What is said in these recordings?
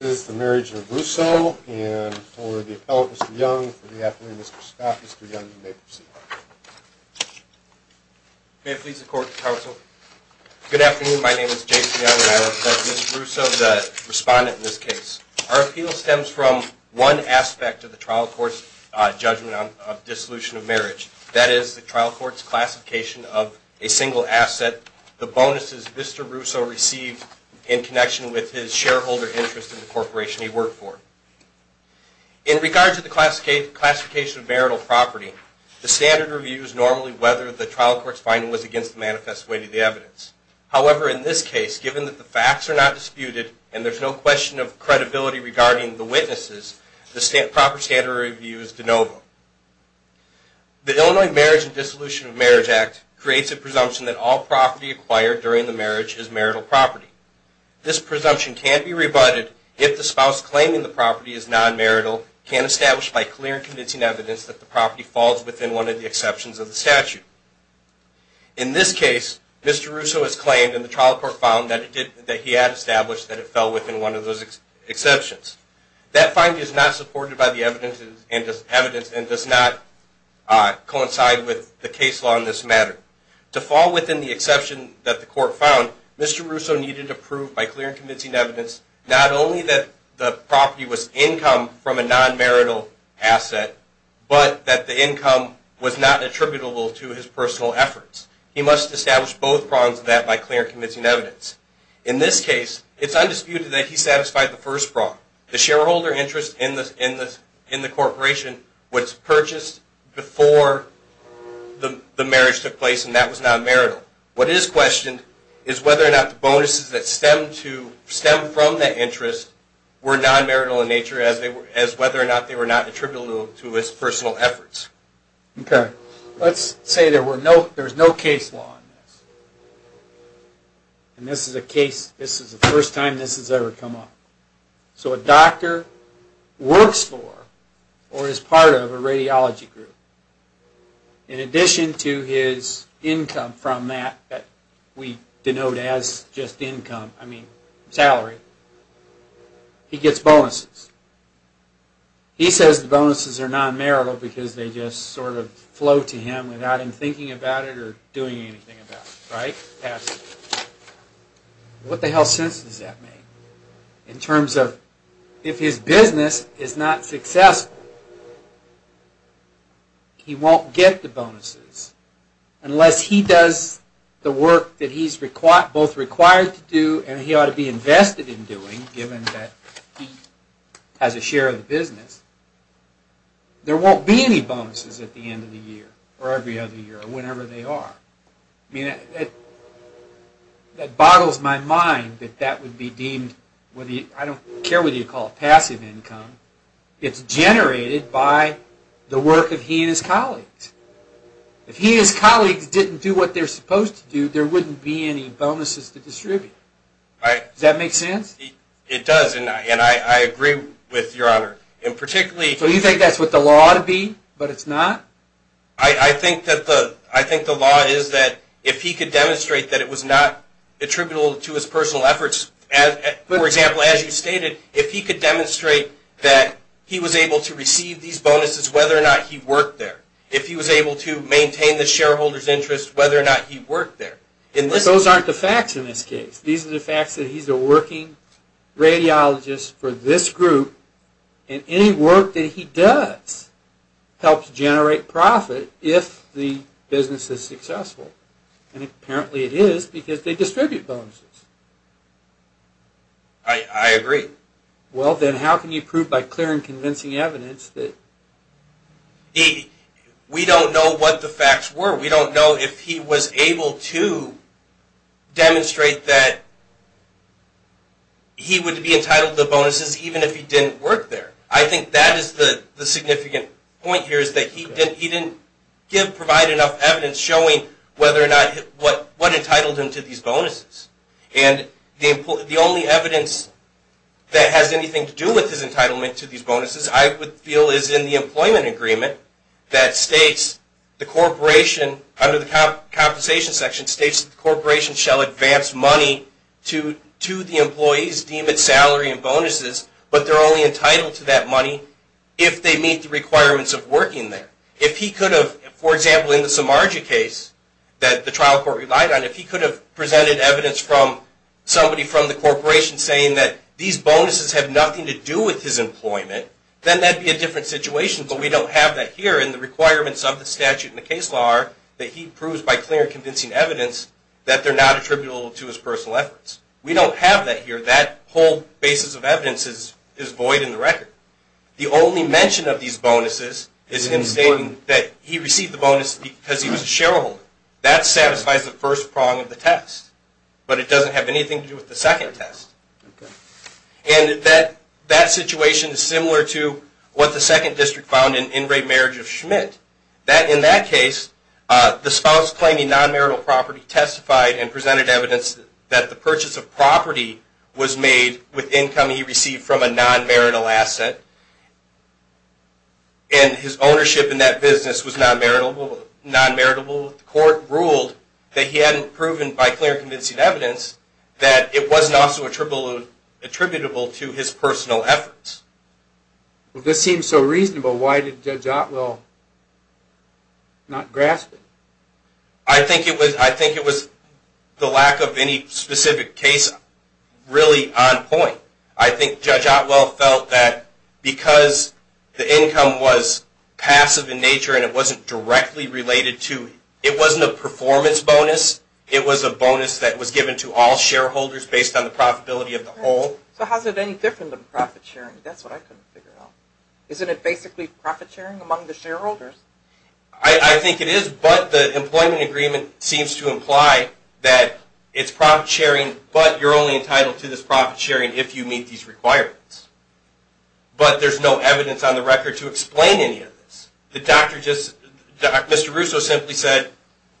and for the appellant, Mr. Young, for the appellant, Mr. Scott. Mr. Young, you may proceed. May it please the Court, Counsel. Good afternoon. My name is Jason Young and I represent Mr. Russo, the respondent in this case. Our appeal stems from one aspect of the trial court's judgment on dissolution of marriage. That is the trial court's classification of a single asset, the bonuses Mr. Russo received in connection with his shareholder interest in the corporation he worked for. In regard to the classification of marital property, the standard review is normally whether the trial court's finding was against the manifest way to the evidence. However, in this case, given that the facts are not disputed and there's no question of credibility regarding the witnesses, the proper standard review is de novo. The Illinois Marriage and Dissolution of Marriage Act creates a presumption that all property acquired during the marriage is marital property. This presumption can be rebutted if the spouse claiming the property is non-marital can't establish by clear and convincing evidence that the property falls within one of the exceptions of the statute. In this case, Mr. Russo has claimed and the trial court found that he had established that it fell within one of those exceptions. That finding is not supported by the evidence and does not coincide with the case law in this matter. To fall within the exception that the court found, Mr. Russo needed to prove by clear and convincing evidence not only that the property was income from a non-marital asset, but that the income was not attributable to his personal efforts. He must establish both prongs of that by clear and convincing evidence. In this case, it's undisputed that he satisfied the first prong. The shareholder interest in the corporation was purchased before the marriage took place and that was non-marital. What is questioned is whether or not the bonuses that stem from that interest were non-marital in nature as whether or not they were not attributable to his personal efforts. Let's say there is no case law in this and this is the first time this has ever come up. So a doctor works for or is part of a radiology group. In addition to his income from that that we denote as just income, I mean salary, he gets bonuses. He says the bonuses are non-marital because they just sort of flow to him without him thinking about it or doing anything about it, right? What the hell sense does that make? In terms of if his business is not successful, he won't get the bonuses unless he does the work that he's both required to do and he ought to be invested in doing, given that he has a share of the business. There won't be any bonuses at the end of the year or every other year or whenever they are. That boggles my mind that that would be deemed, I don't care what you call it, passive income. It's generated by the work of he and his colleagues. If he and his colleagues didn't do what they're supposed to do, there wouldn't be any bonuses to distribute. Does that make sense? It does, and I agree with your honor. So you think that's what the law ought to be, but it's not? I think the law is that if he could demonstrate that it was not attributable to his personal efforts, for example, as you stated, if he could demonstrate that he was able to receive these bonuses whether or not he worked there, if he was able to maintain the shareholder's interest whether or not he worked there. Those aren't the facts in this case. These are the facts that he's a working radiologist for this group, and any work that he does helps generate profit if the business is successful, and apparently it is because they distribute bonuses. I agree. Well, then how can you prove by clear and convincing evidence that... We don't know what the facts were. We don't know if he was able to demonstrate that he would be entitled to bonuses even if he didn't work there. I think that is the significant point here is that he didn't provide enough evidence showing what entitled him to these bonuses, and the only evidence that has anything to do with his entitlement to these bonuses, I would feel is in the employment agreement that states the corporation under the compensation section states that the corporation shall advance money to the employees deemed at salary and bonuses, but they're only entitled to that money if they meet the requirements of working there. If he could have, for example, in the Samarja case that the trial court relied on, if he could have presented evidence from somebody from the corporation saying that these bonuses have nothing to do with his employment, then that would be a different situation, but we don't have that here, and the requirements of the statute and the case law are that he proves by clear and convincing evidence that they're not attributable to his personal efforts. We don't have that here. That whole basis of evidence is void in the record. The only mention of these bonuses is him stating that he received the bonuses because he was a shareholder. That satisfies the first prong of the test, but it doesn't have anything to do with the second test, and that situation is similar to what the second district found in In Re Marriage of Schmidt. In that case, the spouse claiming non-marital property testified and presented evidence that the purchase of property was made with income he received from a non-marital asset, and his ownership in that business was non-maritable. The court ruled that he hadn't proven by clear and convincing evidence that it wasn't also attributable to his personal efforts. Well, this seems so reasonable. Why did Judge Otwell not grasp it? I think it was the lack of any specific case really on point. I think Judge Otwell felt that because the income was passive in nature and it wasn't directly related to, it wasn't a performance bonus. It was a bonus that was given to all shareholders based on the profitability of the whole. So how is it any different than profit sharing? That's what I couldn't figure out. Isn't it basically profit sharing among the shareholders? I think it is, but the employment agreement seems to imply that it's profit sharing, but you're only entitled to this profit sharing if you meet these requirements. But there's no evidence on the record to explain any of this. Mr. Russo simply said,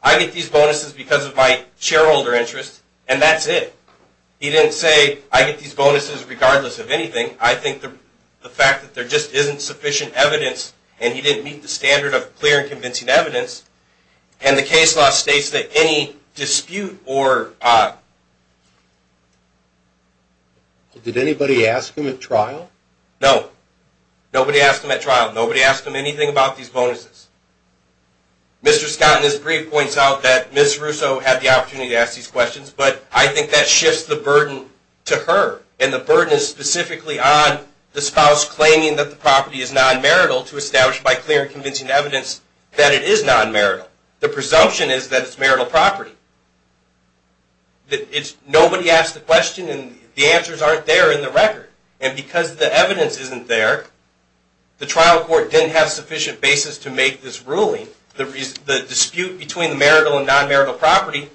I get these bonuses because of my shareholder interest, and that's it. He didn't say, I get these bonuses regardless of anything. I think the fact that there just isn't sufficient evidence, and he didn't meet the standard of clear and convincing evidence, and the case law states that any dispute or... Did anybody ask him at trial? No. Nobody asked him at trial. Nobody asked him anything about these bonuses. Mr. Scott in his brief points out that Ms. Russo had the opportunity to ask these questions, but I think that shifts the burden to her, and the burden is specifically on the spouse claiming that the property is non-marital to establish by clear and convincing evidence that it is non-marital. The presumption is that it's marital property. Nobody asked the question, and the answers aren't there in the record. And because the evidence isn't there, the trial court didn't have sufficient basis to make this ruling. The dispute between marital and non-marital property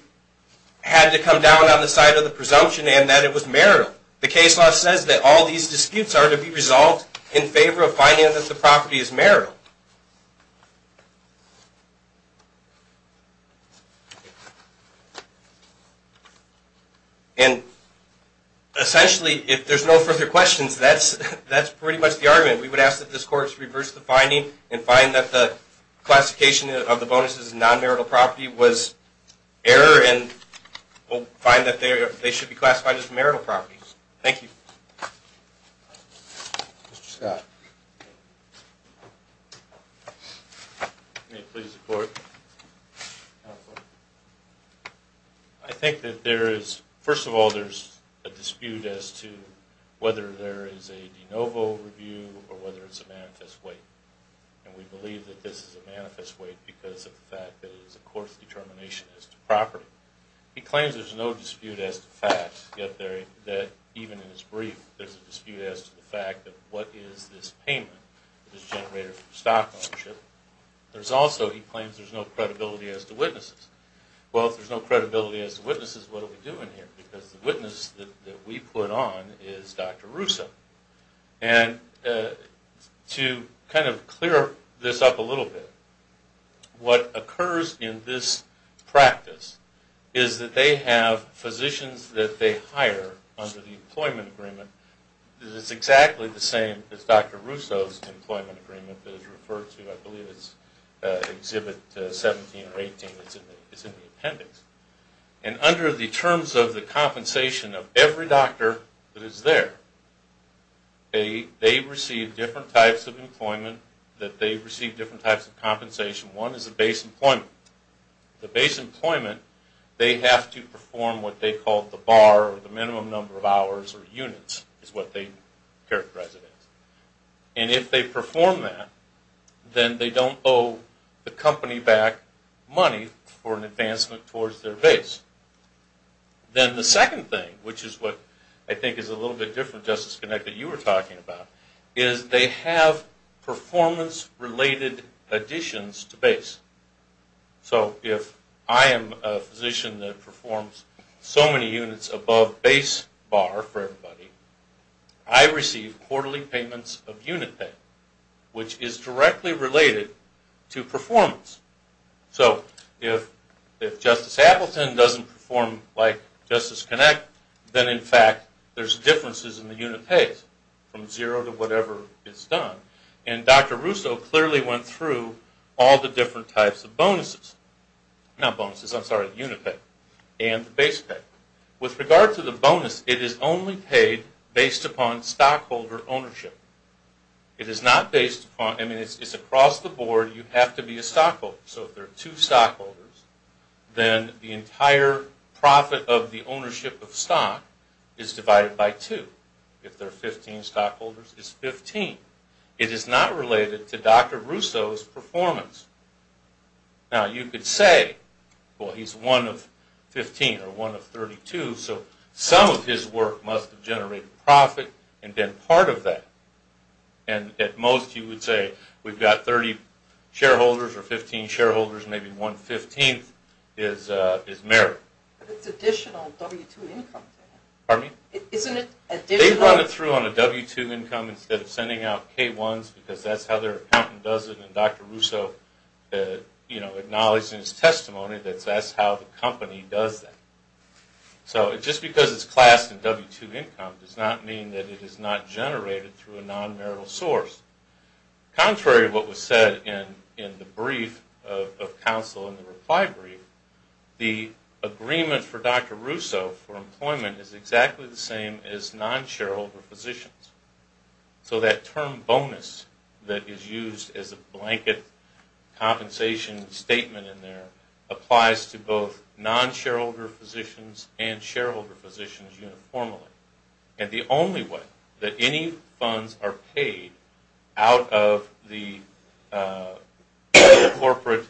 had to come down on the side of the presumption and that it was marital. The case law says that all these disputes are to be resolved in favor of finding that the property is marital. And essentially, if there's no further questions, that's pretty much the argument. We would ask that this Court reverse the finding and find that the classification of the bonuses as non-marital property was error, and we'll find that they should be classified as marital property. Thank you. Mr. Scott. May it please the Court. I think that there is, first of all, there's a dispute as to whether there is a de novo review or whether it's a manifest weight. And we believe that this is a manifest weight because of the fact that it is a court's determination as to property. He claims there's no dispute as to facts, yet even in his brief, there's a dispute as to the fact that what is this payment that is generated from stock ownership. There's also, he claims there's no credibility as to witnesses. Well, if there's no credibility as to witnesses, what are we doing here? Because the witness that we put on is Dr. Russo. And to kind of clear this up a little bit, what occurs in this practice is that they have physicians that they hire under the employment agreement. It's exactly the same as Dr. Russo's employment agreement that is referred to, I believe it's Exhibit 17 or 18. It's in the appendix. And under the terms of the compensation of every doctor that is there, they receive different types of employment, that they receive different types of compensation. One is the base employment. The base employment, they have to perform what they call the bar or the minimum number of hours or units, is what they characterize it as. And if they perform that, then they don't owe the company back money for an advancement towards their base. Then the second thing, which is what I think is a little bit different, Justice Connect, that you were talking about, is they have performance-related additions to base. So if I am a physician that performs so many units above base bar for everybody, I receive quarterly payments of unit pay, which is directly related to performance. So if Justice Appleton doesn't perform like Justice Connect, then in fact there's differences in the unit pay from zero to whatever is done. And Dr. Russo clearly went through all the different types of bonuses, not bonuses, I'm sorry, the unit pay and the base pay. With regard to the bonus, it is only paid based upon stockholder ownership. It is not based upon, I mean it's across the board, you have to be a stockholder. So if there are two stockholders, then the entire profit of the ownership of stock is divided by two. If there are 15 stockholders, it's 15. It is not related to Dr. Russo's performance. Now you could say, well he's one of 15 or one of 32, so some of his work must have generated profit and been part of that. And at most you would say we've got 30 shareholders or 15 shareholders, maybe one-fifteenth is merit. But it's additional W-2 income. Pardon me? Isn't it additional? They run it through on a W-2 income instead of sending out K-1s because that's how their accountant does it, and Dr. Russo acknowledged in his testimony that that's how the company does that. So just because it's classed in W-2 income does not mean that it is not generated through a non-marital source. Contrary to what was said in the brief of counsel in the reply brief, the agreement for Dr. Russo for employment is exactly the same as non-shareholder positions. So that term bonus that is used as a blanket compensation statement in there applies to both non-shareholder positions and shareholder positions uniformly. And the only way that any funds are paid out of the corporate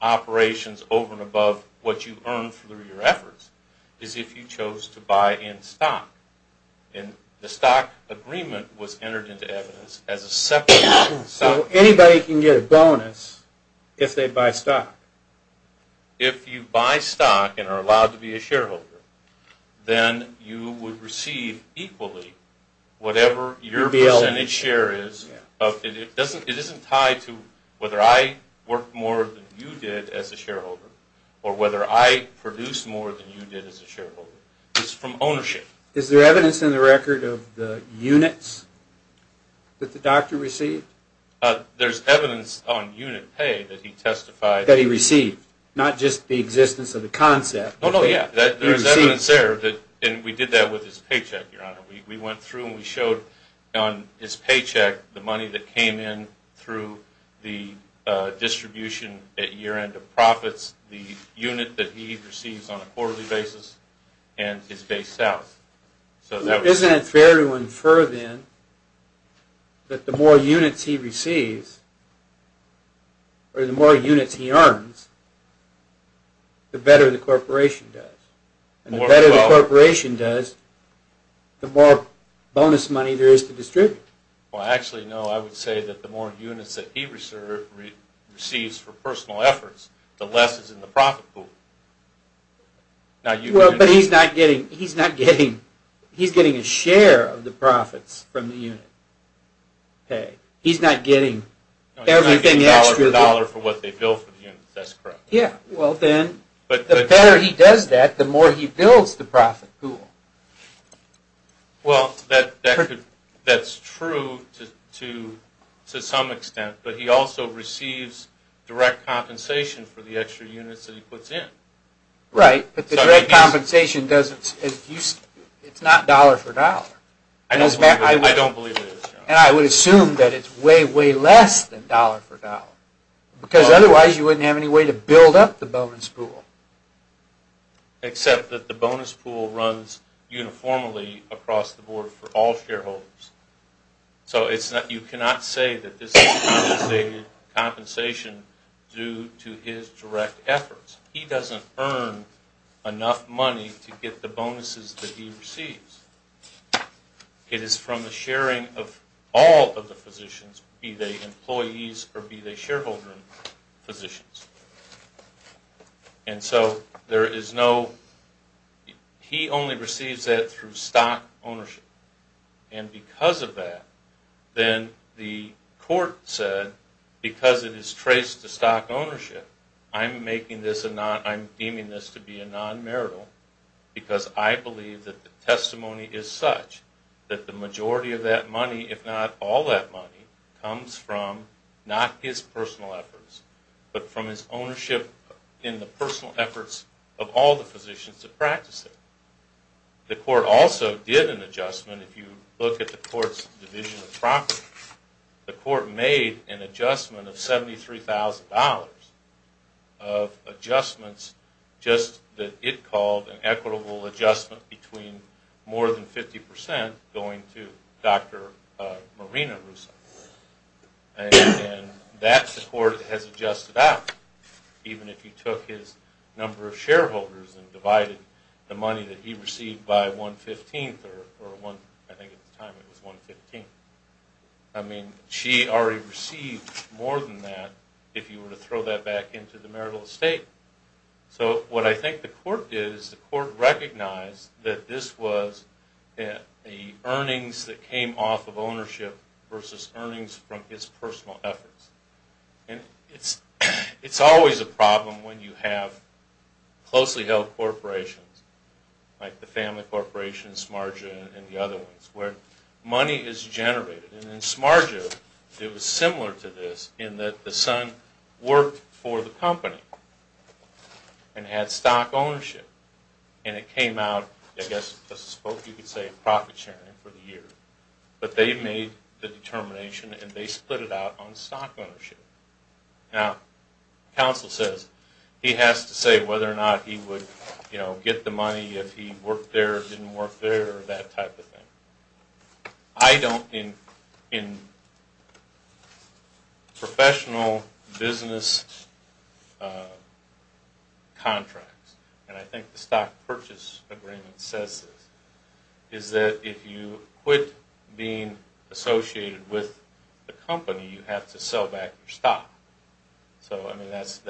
operations over and above what you earn through your efforts is if you chose to buy in stock. And the stock agreement was entered into evidence as a separate stock. So anybody can get a bonus if they buy stock? If you buy stock and are allowed to be a shareholder, then you would receive equally whatever your percentage share is. It isn't tied to whether I worked more than you did as a shareholder or whether I produced more than you did as a shareholder. It's from ownership. Is there evidence in the record of the units that the doctor received? There's evidence on unit pay that he testified. That he received, not just the existence of the concept. No, no, yeah. There's evidence there. And we did that with his paycheck, Your Honor. We went through and we showed on his paycheck the money that came in through the distribution at year end of profits, the unit that he receives on a quarterly basis, and his base out. Isn't it fair to infer, then, that the more units he receives, or the more units he earns, the better the corporation does? And the better the corporation does, the more bonus money there is to distribute? Well, actually, no. I would say that the more units that he receives for personal efforts, the less is in the profit pool. But he's not getting a share of the profits from the unit pay. He's not getting everything extra. He's not getting dollar for dollar for what they bill for the units. That's correct. Yeah. Well, then, the better he does that, the more he bills the profit pool. Well, that's true to some extent. But he also receives direct compensation for the extra units that he puts in. Right. But the direct compensation, it's not dollar for dollar. I don't believe it is, Your Honor. And I would assume that it's way, way less than dollar for dollar. Because otherwise, you wouldn't have any way to build up the bonus pool. Except that the bonus pool runs uniformly across the board for all shareholders. So you cannot say that this is compensated due to his direct efforts. He doesn't earn enough money to get the bonuses that he receives. It is from the sharing of all of the positions, be they employees or be they shareholder positions. And so there is no – he only receives that through stock ownership. And because of that, then the court said, because it is traced to stock ownership, I'm making this a non – I'm deeming this to be a non-marital, because I believe that the testimony is such that the majority of that money, if not all that money, comes from not his personal efforts, but from his ownership in the personal efforts of all the positions that practice it. The court also did an adjustment. If you look at the court's division of property, the court made an adjustment of $73,000 of adjustments, just that it called an equitable adjustment between more than 50% going to Dr. Marina Russo. And that the court has adjusted out, even if you took his number of shareholders and divided the money that he received by one-fifteenth, or one – I think at the time it was one-fifteenth. I mean, she already received more than that if you were to throw that back into the marital estate. So what I think the court did is the court recognized that this was the earnings that came off of ownership versus earnings from his personal efforts. And it's always a problem when you have closely held corporations, like the family corporations, Smarja, and the other ones, where money is generated. And in Smarja, it was similar to this, in that the son worked for the company and had stock ownership. And it came out, I guess, a spoke, you could say, of profit sharing for the year. But they made the determination and they split it out on stock ownership. Now, counsel says he has to say whether or not he would get the money if he worked there, or didn't work there, or that type of thing. I don't – in professional business contracts, and I think the stock purchase agreement says this, is that if you quit being associated with the company, you have to sell back your stock. So, I mean, that's,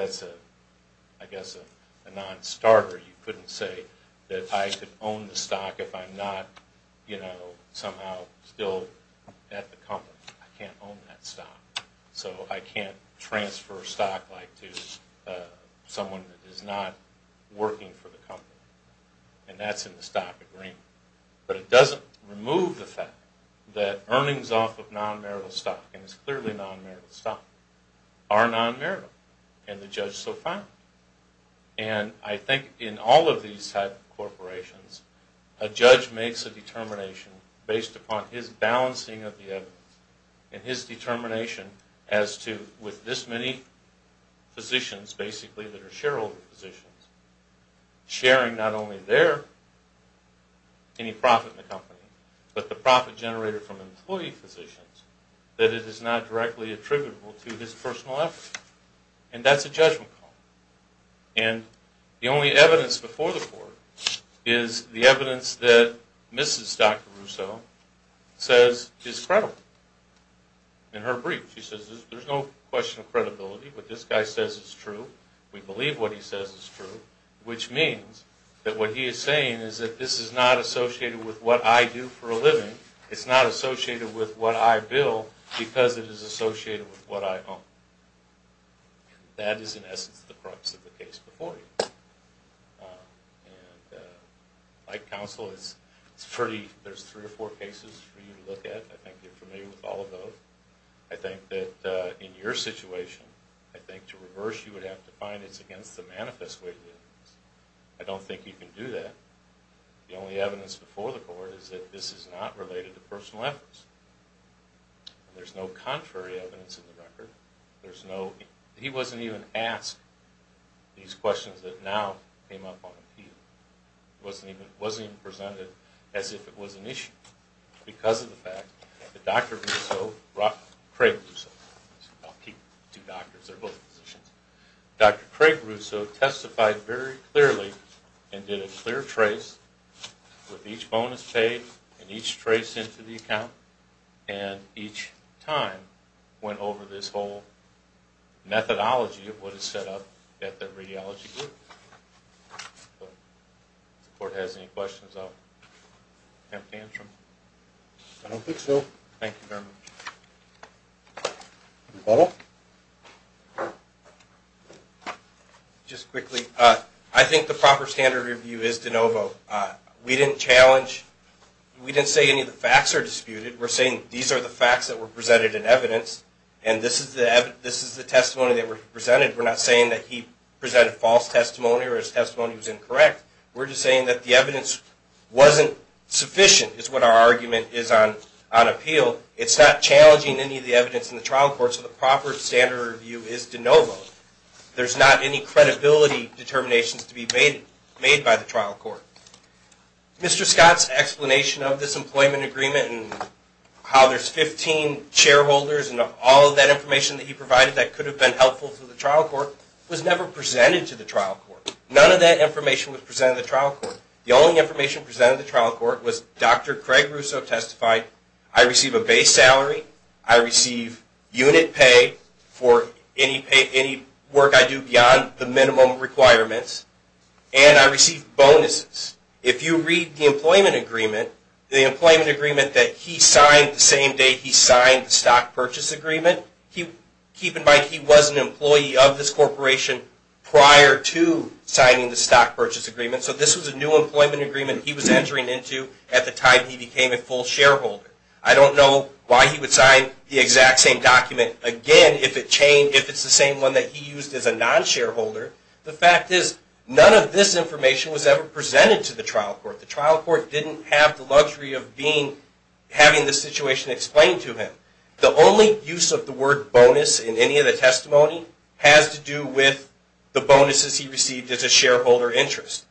I guess, a non-starter. You couldn't say that I could own the stock if I'm not, you know, somehow still at the company. I can't own that stock. So I can't transfer stock, like, to someone that is not working for the company. And that's in the stock agreement. But it doesn't remove the fact that earnings off of non-marital stock, and it's clearly non-marital stock, are non-marital. And the judge so found it. And I think in all of these type of corporations, a judge makes a determination based upon his balancing of the evidence and his determination as to, with this many physicians, basically, that are shareholder physicians, sharing not only their – any profit in the company, but the profit generated from employee physicians, that it is not directly attributable to his personal equity. And that's a judgment call. And the only evidence before the court is the evidence that Mrs. Dr. Russo says is credible. In her brief, she says, there's no question of credibility. What this guy says is true. We believe what he says is true, which means that what he is saying is that this is not associated with what I do for a living. It's not associated with what I bill because it is associated with what I own. And that is, in essence, the crux of the case before you. And like counsel, it's pretty – there's three or four cases for you to look at. I think you're familiar with all of those. I think that in your situation, I think to reverse you would have to find it's against the manifest way of the evidence. I don't think you can do that. The only evidence before the court is that this is not related to personal efforts. There's no contrary evidence in the record. There's no – he wasn't even asked these questions that now came up on the field. It wasn't even presented as if it was an issue because of the fact that Dr. Russo – Craig Russo. I'll keep two doctors. They're both physicians. Dr. Craig Russo testified very clearly and did a clear trace with each bonus paid and each trace into the account. And each time went over this whole methodology of what is set up at the radiology group. If the court has any questions, I'll attempt to answer them. I don't think so. Thank you very much. Butler? Just quickly, I think the proper standard review is de novo. We didn't challenge – we didn't say any of the facts are disputed. We're saying these are the facts that were presented in evidence and this is the testimony that was presented. We're not saying that he presented false testimony or his testimony was incorrect. We're just saying that the evidence wasn't sufficient is what our argument is on appeal. It's not challenging any of the evidence in the trial court. So the proper standard review is de novo. There's not any credibility determinations to be made by the trial court. Mr. Scott's explanation of this employment agreement and how there's 15 shareholders and all of that information that he provided that could have been helpful to the trial court was never presented to the trial court. None of that information was presented to the trial court. The only information presented to the trial court was Dr. Craig Russo testified, I receive a base salary, I receive unit pay for any work I do beyond the minimum requirements, and I receive bonuses. If you read the employment agreement, the employment agreement that he signed the same day he signed the stock purchase agreement, keep in mind he was an employee of this corporation prior to signing the stock purchase agreement. So this was a new employment agreement he was entering into at the time he became a full shareholder. I don't know why he would sign the exact same document again if it's the same one that he used as a non-shareholder. The fact is none of this information was ever presented to the trial court. The trial court didn't have the luxury of having the situation explained to him. The only use of the word bonus in any of the testimony has to do with the bonuses he received as a shareholder interest.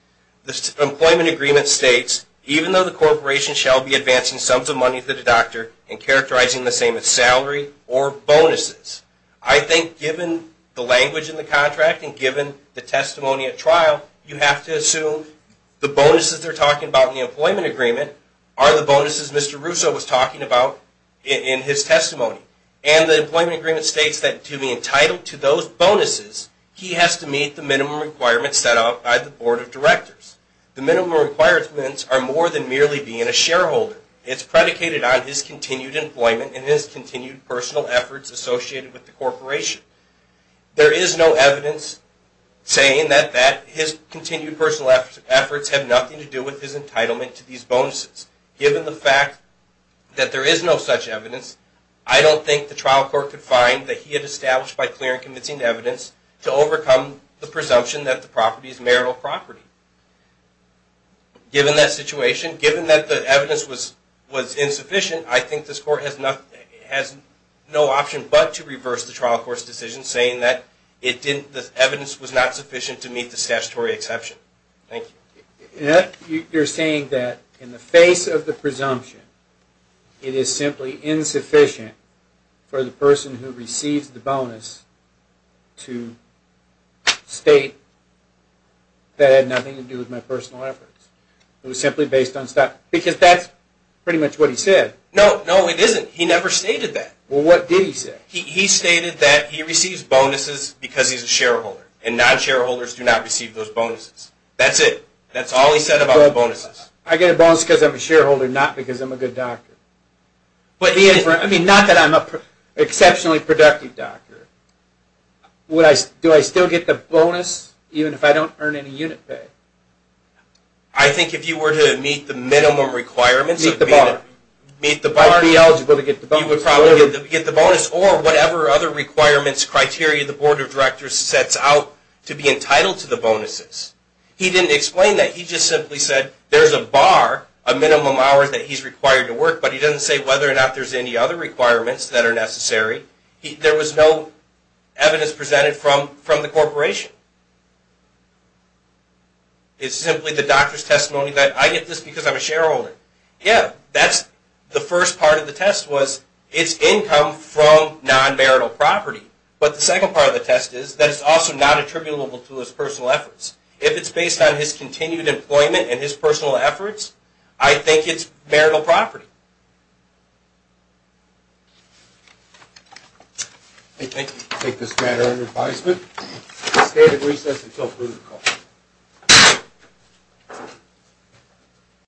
The employment agreement states, even though the corporation shall be advancing sums of money to the doctor and characterizing the same as salary or bonuses, I think given the language in the contract and given the testimony at trial, you have to assume the bonuses they're talking about in the employment agreement are the bonuses Mr. Russo was talking about in his testimony. And the employment agreement states that to be entitled to those bonuses, he has to meet the minimum requirements set out by the board of directors. The minimum requirements are more than merely being a shareholder. It's predicated on his continued employment and his continued personal efforts associated with the corporation. There is no evidence saying that his continued personal efforts have nothing to do with his entitlement to these bonuses. Given the fact that there is no such evidence, I don't think the trial court could find that he had established by clear and convincing evidence to overcome the presumption that the property is marital property. Given that situation, given that the evidence was insufficient, I think this court has no option but to reverse the trial court's decision saying that the evidence was not sufficient to meet the statutory exception. Thank you. You're saying that in the face of the presumption, it is simply insufficient for the person who receives the bonus to state that it had nothing to do with my personal efforts. It was simply based on stuff, because that's pretty much what he said. No, no, it isn't. He never stated that. Well, what did he say? He stated that he receives bonuses because he's a shareholder, and non-shareholders do not receive those bonuses. That's it. That's all he said about the bonuses. I get a bonus because I'm a shareholder, not because I'm a good doctor. I mean, not that I'm an exceptionally productive doctor. Do I still get the bonus even if I don't earn any unit pay? I think if you were to meet the minimum requirements. Meet the bar. Meet the bar. I'd be eligible to get the bonus. You would probably get the bonus, or whatever other requirements, criteria the Board of Directors sets out to be entitled to the bonuses. He didn't explain that. He just simply said there's a bar of minimum hours that he's required to work, but he doesn't say whether or not there's any other requirements that are necessary. There was no evidence presented from the corporation. It's simply the doctor's testimony that I get this because I'm a shareholder. Yeah, that's the first part of the test, was it's income from non-marital property. But the second part of the test is that it's also not attributable to his personal efforts. If it's based on his continued employment and his personal efforts, I think it's marital property. Thank you. I take this matter under advisement. State of recess until approval.